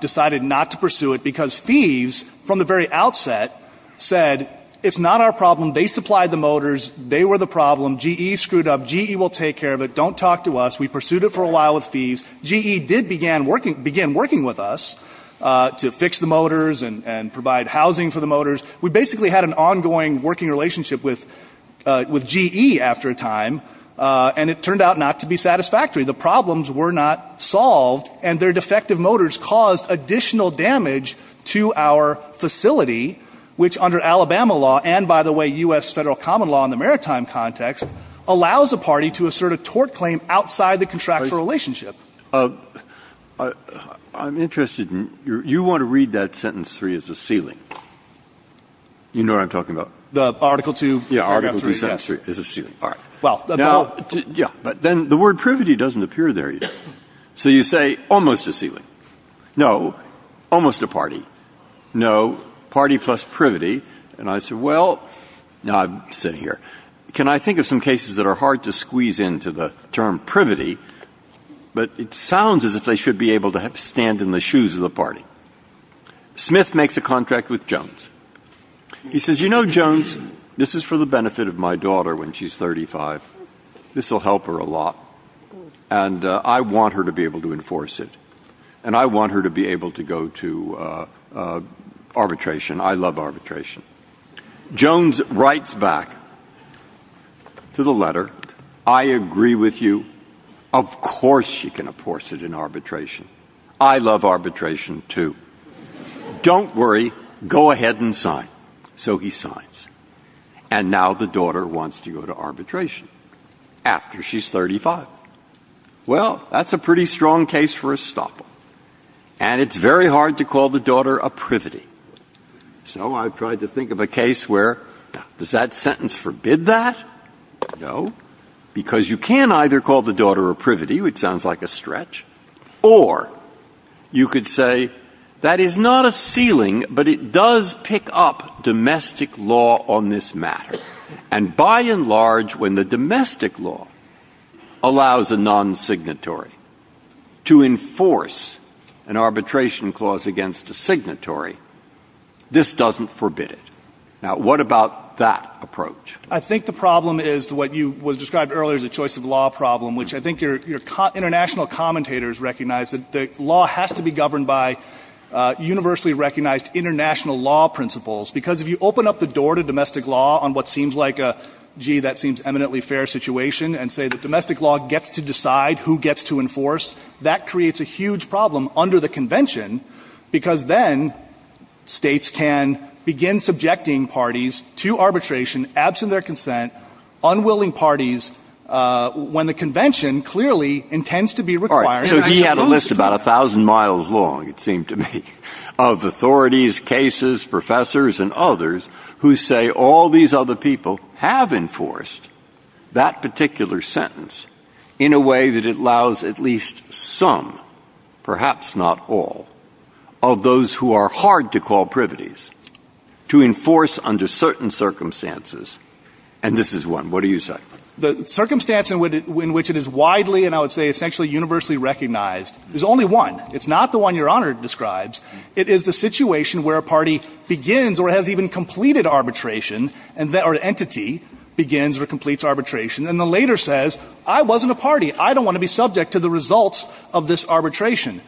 decided not to pursue it, because Thieves, from the very outset, said, it's not our problem. They supplied the motors. They were the problem. GE screwed up. GE will take care of it. Don't talk to us. We pursued it for a while with Thieves. GE did begin working with us to fix the motors and provide housing for the motors. We basically had an ongoing working relationship with GE after a time. And it turned out not to be satisfactory. The problems were not solved. And their defective motors caused additional damage to our facility, which under Alabama law, and, by the way, U.S. Federal common law in the maritime context, allows a party to assert a tort claim outside the contractual relationship. I'm interested in — you want to read that sentence 3 as a ceiling. You know what I'm talking about? The Article 2, paragraph 3. Yeah, Article 2, sentence 3 is a ceiling. All right. Well — Yeah. But then the word privity doesn't appear there either. So you say almost a ceiling. No. Almost a party. No. Party plus privity. And I said, well — no, I'm sitting here. Can I think of some cases that are hard to squeeze into the term privity, but it sounds as if they should be able to stand in the shoes of the party? Smith makes a contract with Jones. He says, you know, Jones, this is for the benefit of my daughter when she's 35. This will help her a lot. And I want her to be able to enforce it. And I want her to be able to go to arbitration. I love arbitration. Jones writes back to the letter, I agree with you. Of course she can enforce it in arbitration. I love arbitration too. Don't worry. Go ahead and sign. So he signs. And now the daughter wants to go to arbitration after she's 35. Well, that's a pretty strong case for a stopper. And it's very hard to call the daughter a privity. So I tried to think of a case where does that sentence forbid that? No, because you can either call the daughter a privity, which sounds like a stretch, or you could say that is not a ceiling, but it does pick up domestic law on this matter. And by and large, when the domestic law allows a non-signatory to enforce an arbitration clause against a signatory, this doesn't forbid it. Now, what about that approach? I think the problem is what was described earlier as a choice of law problem, which I think your international commentators recognize that the law has to be governed by universally recognized international law principles. Because if you open up the door to domestic law on what seems like a, gee, that seems eminently fair situation, and say that domestic law gets to decide who gets to enforce, that creates a huge problem under the Convention, because then States can begin subjecting parties to arbitration absent their consent, unwilling parties, when the Convention clearly intends to be required. All right. So he had a list about 1,000 miles long, it seemed to me, of authorities, cases, professors, and others who say all these other people have enforced that particular sentence in a way that it allows at least some, perhaps not all, of those who are hard to call privities to enforce under certain circumstances. And this is one. What do you say? The circumstance in which it is widely, and I would say essentially universally recognized, there's only one. It's not the one Your Honor describes. It is the situation where a party begins or has even completed arbitration, or an entity begins or completes arbitration, and then later says, I wasn't a party. I don't want to be subject to the results of this arbitration.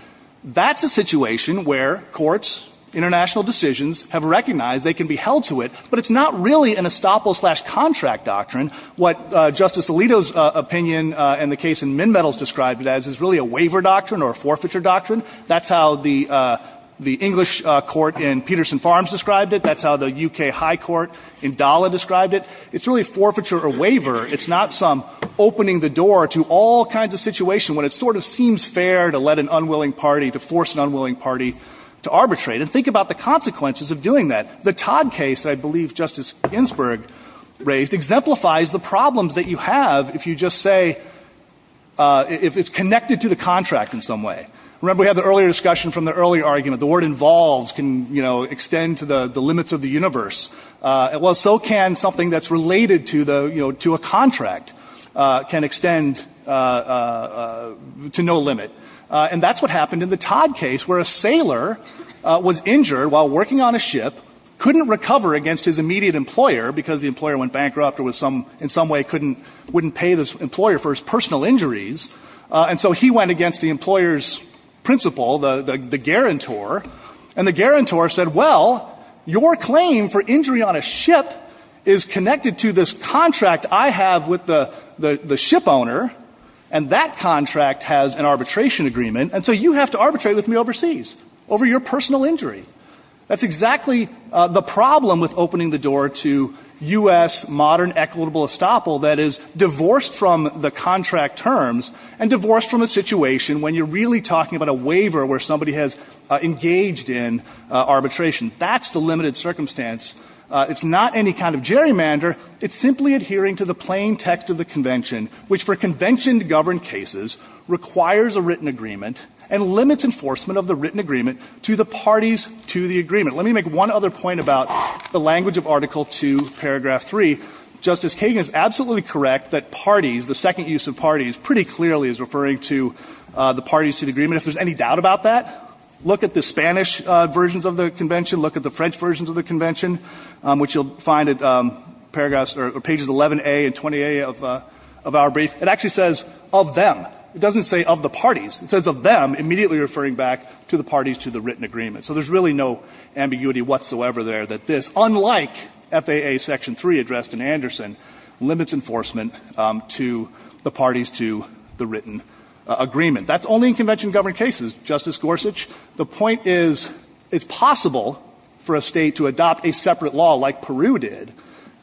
That's a situation where courts, international decisions have recognized they can be held to it, but it's not really an estoppel-slash-contract doctrine. What Justice Alito's opinion and the case in Minmetals described it as is really a waiver doctrine or a forfeiture doctrine. That's how the English court in Peterson Farms described it. That's how the U.K. High Court in Dalla described it. It's really forfeiture or waiver. It's not some opening the door to all kinds of situations when it sort of seems fair to let an unwilling party, to force an unwilling party to arbitrate. And think about the consequences of doing that. The Todd case, I believe Justice Ginsburg raised, exemplifies the problems that you have if you just say, if it's connected to the contract in some way. Remember, we had the earlier discussion from the earlier argument. The word involves can extend to the limits of the universe. Well, so can something that's related to a contract can extend to no limit. And that's what happened in the Todd case where a sailor was injured while working on a ship, couldn't recover against his immediate employer because the employer went bankrupt or in some way wouldn't pay the employer for his personal injuries. And so he went against the employer's principal, the guarantor, and the guarantor said, well, your claim for injury on a ship is connected to this contract I have with the ship owner, and that contract has an arbitration agreement, and so you have to arbitrate with me overseas over your personal injury. That's exactly the problem with opening the door to U.S. modern equitable estoppel that is divorced from the contract terms and divorced from a situation when you're really talking about a waiver where somebody has engaged in arbitration. That's the limited circumstance. It's not any kind of gerrymander. It's simply adhering to the plain text of the convention, which for convention governed cases requires a written agreement and limits enforcement of the written agreement to the parties to the agreement. Let me make one other point about the language of Article 2, Paragraph 3. Justice Kagan is absolutely correct that parties, the second use of parties pretty clearly is referring to the parties to the agreement. If there's any doubt about that, look at the Spanish versions of the convention, look at the French versions of the convention, which you'll find at paragraphs or pages 11A and 20A of our brief. It actually says of them. It doesn't say of the parties. It says of them, immediately referring back to the parties to the written agreement. So there's really no ambiguity whatsoever there that this, unlike FAA Section 3 addressed in Anderson, limits enforcement to the parties to the written agreement. That's only in convention governed cases, Justice Gorsuch. The point is it's possible for a state to adopt a separate law like Peru did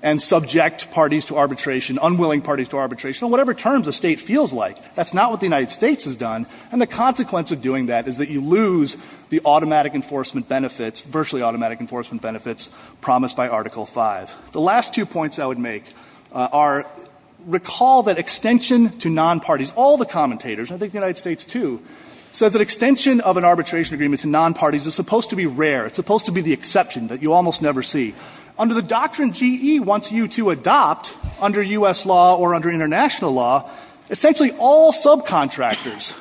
and subject parties to arbitration, unwilling parties to arbitration, on whatever terms a state feels like. That's not what the United States has done. And the consequence of doing that is that you lose the automatic enforcement benefits, virtually automatic enforcement benefits promised by Article 5. The last two points I would make are recall that extension to non-parties, all the commentators, I think the United States too, says that extension of an arbitration agreement to non-parties is supposed to be rare. It's supposed to be the exception that you almost never see. Under the doctrine GE wants you to adopt under U.S. law or under international law, essentially all subcontractors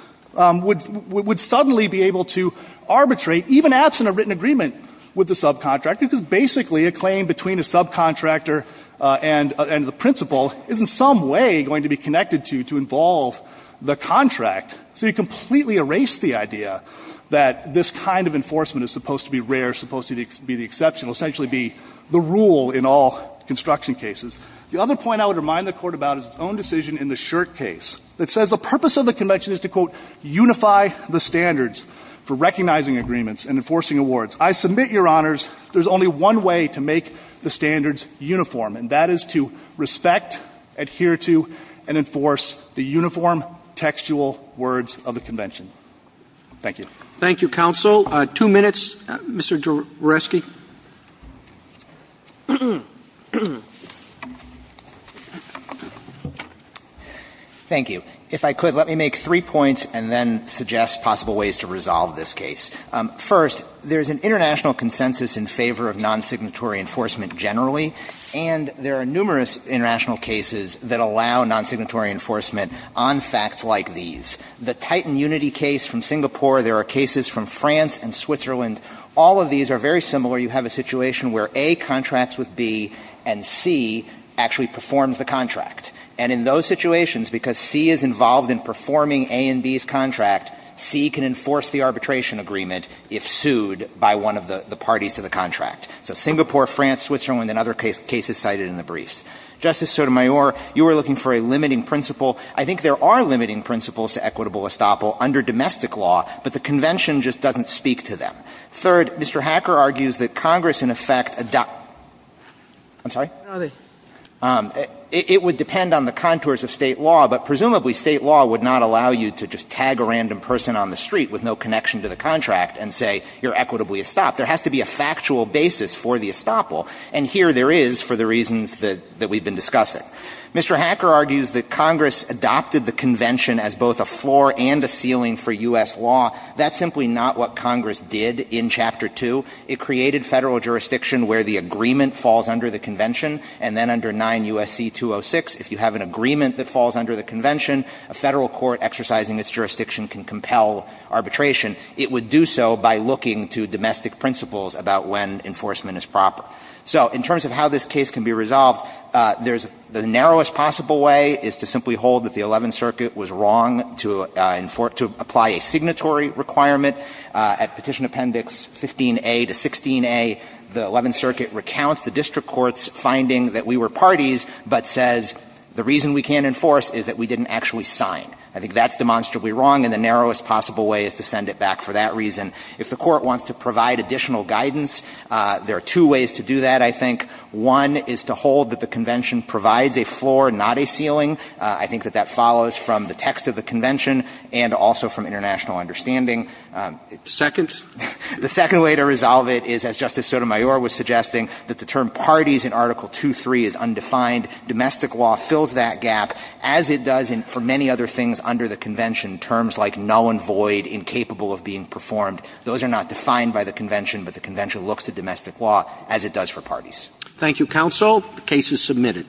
would suddenly be able to arbitrate, even absent a written agreement with the subcontractor, because basically a claim between a subcontractor and the principal is in some way going to be connected to you to involve the contract. So you completely erase the idea that this kind of enforcement is supposed to be rare, supposed to be the exception, essentially be the rule in all construction cases. The other point I would remind the Court about is its own decision in the Shirt case that says the purpose of the convention is to, quote, unify the standards for recognizing agreements and enforcing awards. I submit, Your Honors, there's only one way to make the standards uniform, and that is to respect, adhere to, and enforce the uniform textual words of the convention. Thank you. Thank you, counsel. Two minutes. Mr. Jouresky. Thank you. If I could, let me make three points and then suggest possible ways to resolve this case. First, there's an international consensus in favor of non-signatory enforcement generally, and there are numerous international cases that allow non-signatory enforcement on facts like these. The Titan Unity case from Singapore, there are cases from France and Switzerland. All of these are very similar. You have a situation where A contracts with B and C actually performs the contract. And in those situations, because C is involved in performing A and B's contract, C can enforce the arbitration agreement if sued by one of the parties to the contract. So Singapore, France, Switzerland, and other cases cited in the briefs. Justice Sotomayor, you were looking for a limiting principle. I think there are limiting principles to equitable estoppel under domestic law, but the convention just doesn't speak to them. Third, Mr. Hacker argues that Congress, in effect, adopts – I'm sorry? It would depend on the contours of State law, but presumably State law would not allow you to just tag a random person on the street with no connection to the contract and say you're equitably estopped. There has to be a factual basis for the estoppel, and here there is for the reasons that we've been discussing. Mr. Hacker argues that Congress adopted the convention as both a floor and a ceiling for U.S. law. That's simply not what Congress did in Chapter 2. It created Federal jurisdiction where the agreement falls under the convention and then under 9 U.S.C. 206. If you have an agreement that falls under the convention, a Federal court exercising its jurisdiction can compel arbitration. It would do so by looking to domestic principles about when enforcement is proper. So in terms of how this case can be resolved, there's – the narrowest possible way is to simply hold that the Eleventh Circuit was wrong to apply a signatory requirement at Petition Appendix 15a to 16a. The Eleventh Circuit recounts the district court's finding that we were parties but says the reason we can't enforce is that we didn't actually sign. I think that's demonstrably wrong, and the narrowest possible way is to send it back for that reason. If the Court wants to provide additional guidance, there are two ways to do that, I think. One is to hold that the convention provides a floor, not a ceiling. I think that that follows from the text of the convention and also from international understanding. The second way to resolve it is, as Justice Sotomayor was suggesting, that the term parties in Article 2.3 is undefined. Domestic law fills that gap, as it does for many other things under the convention, terms like null and void, incapable of being performed. Those are not defined by the convention, but the convention looks at domestic law as it does for parties. Roberts. Thank you, counsel. The case is submitted.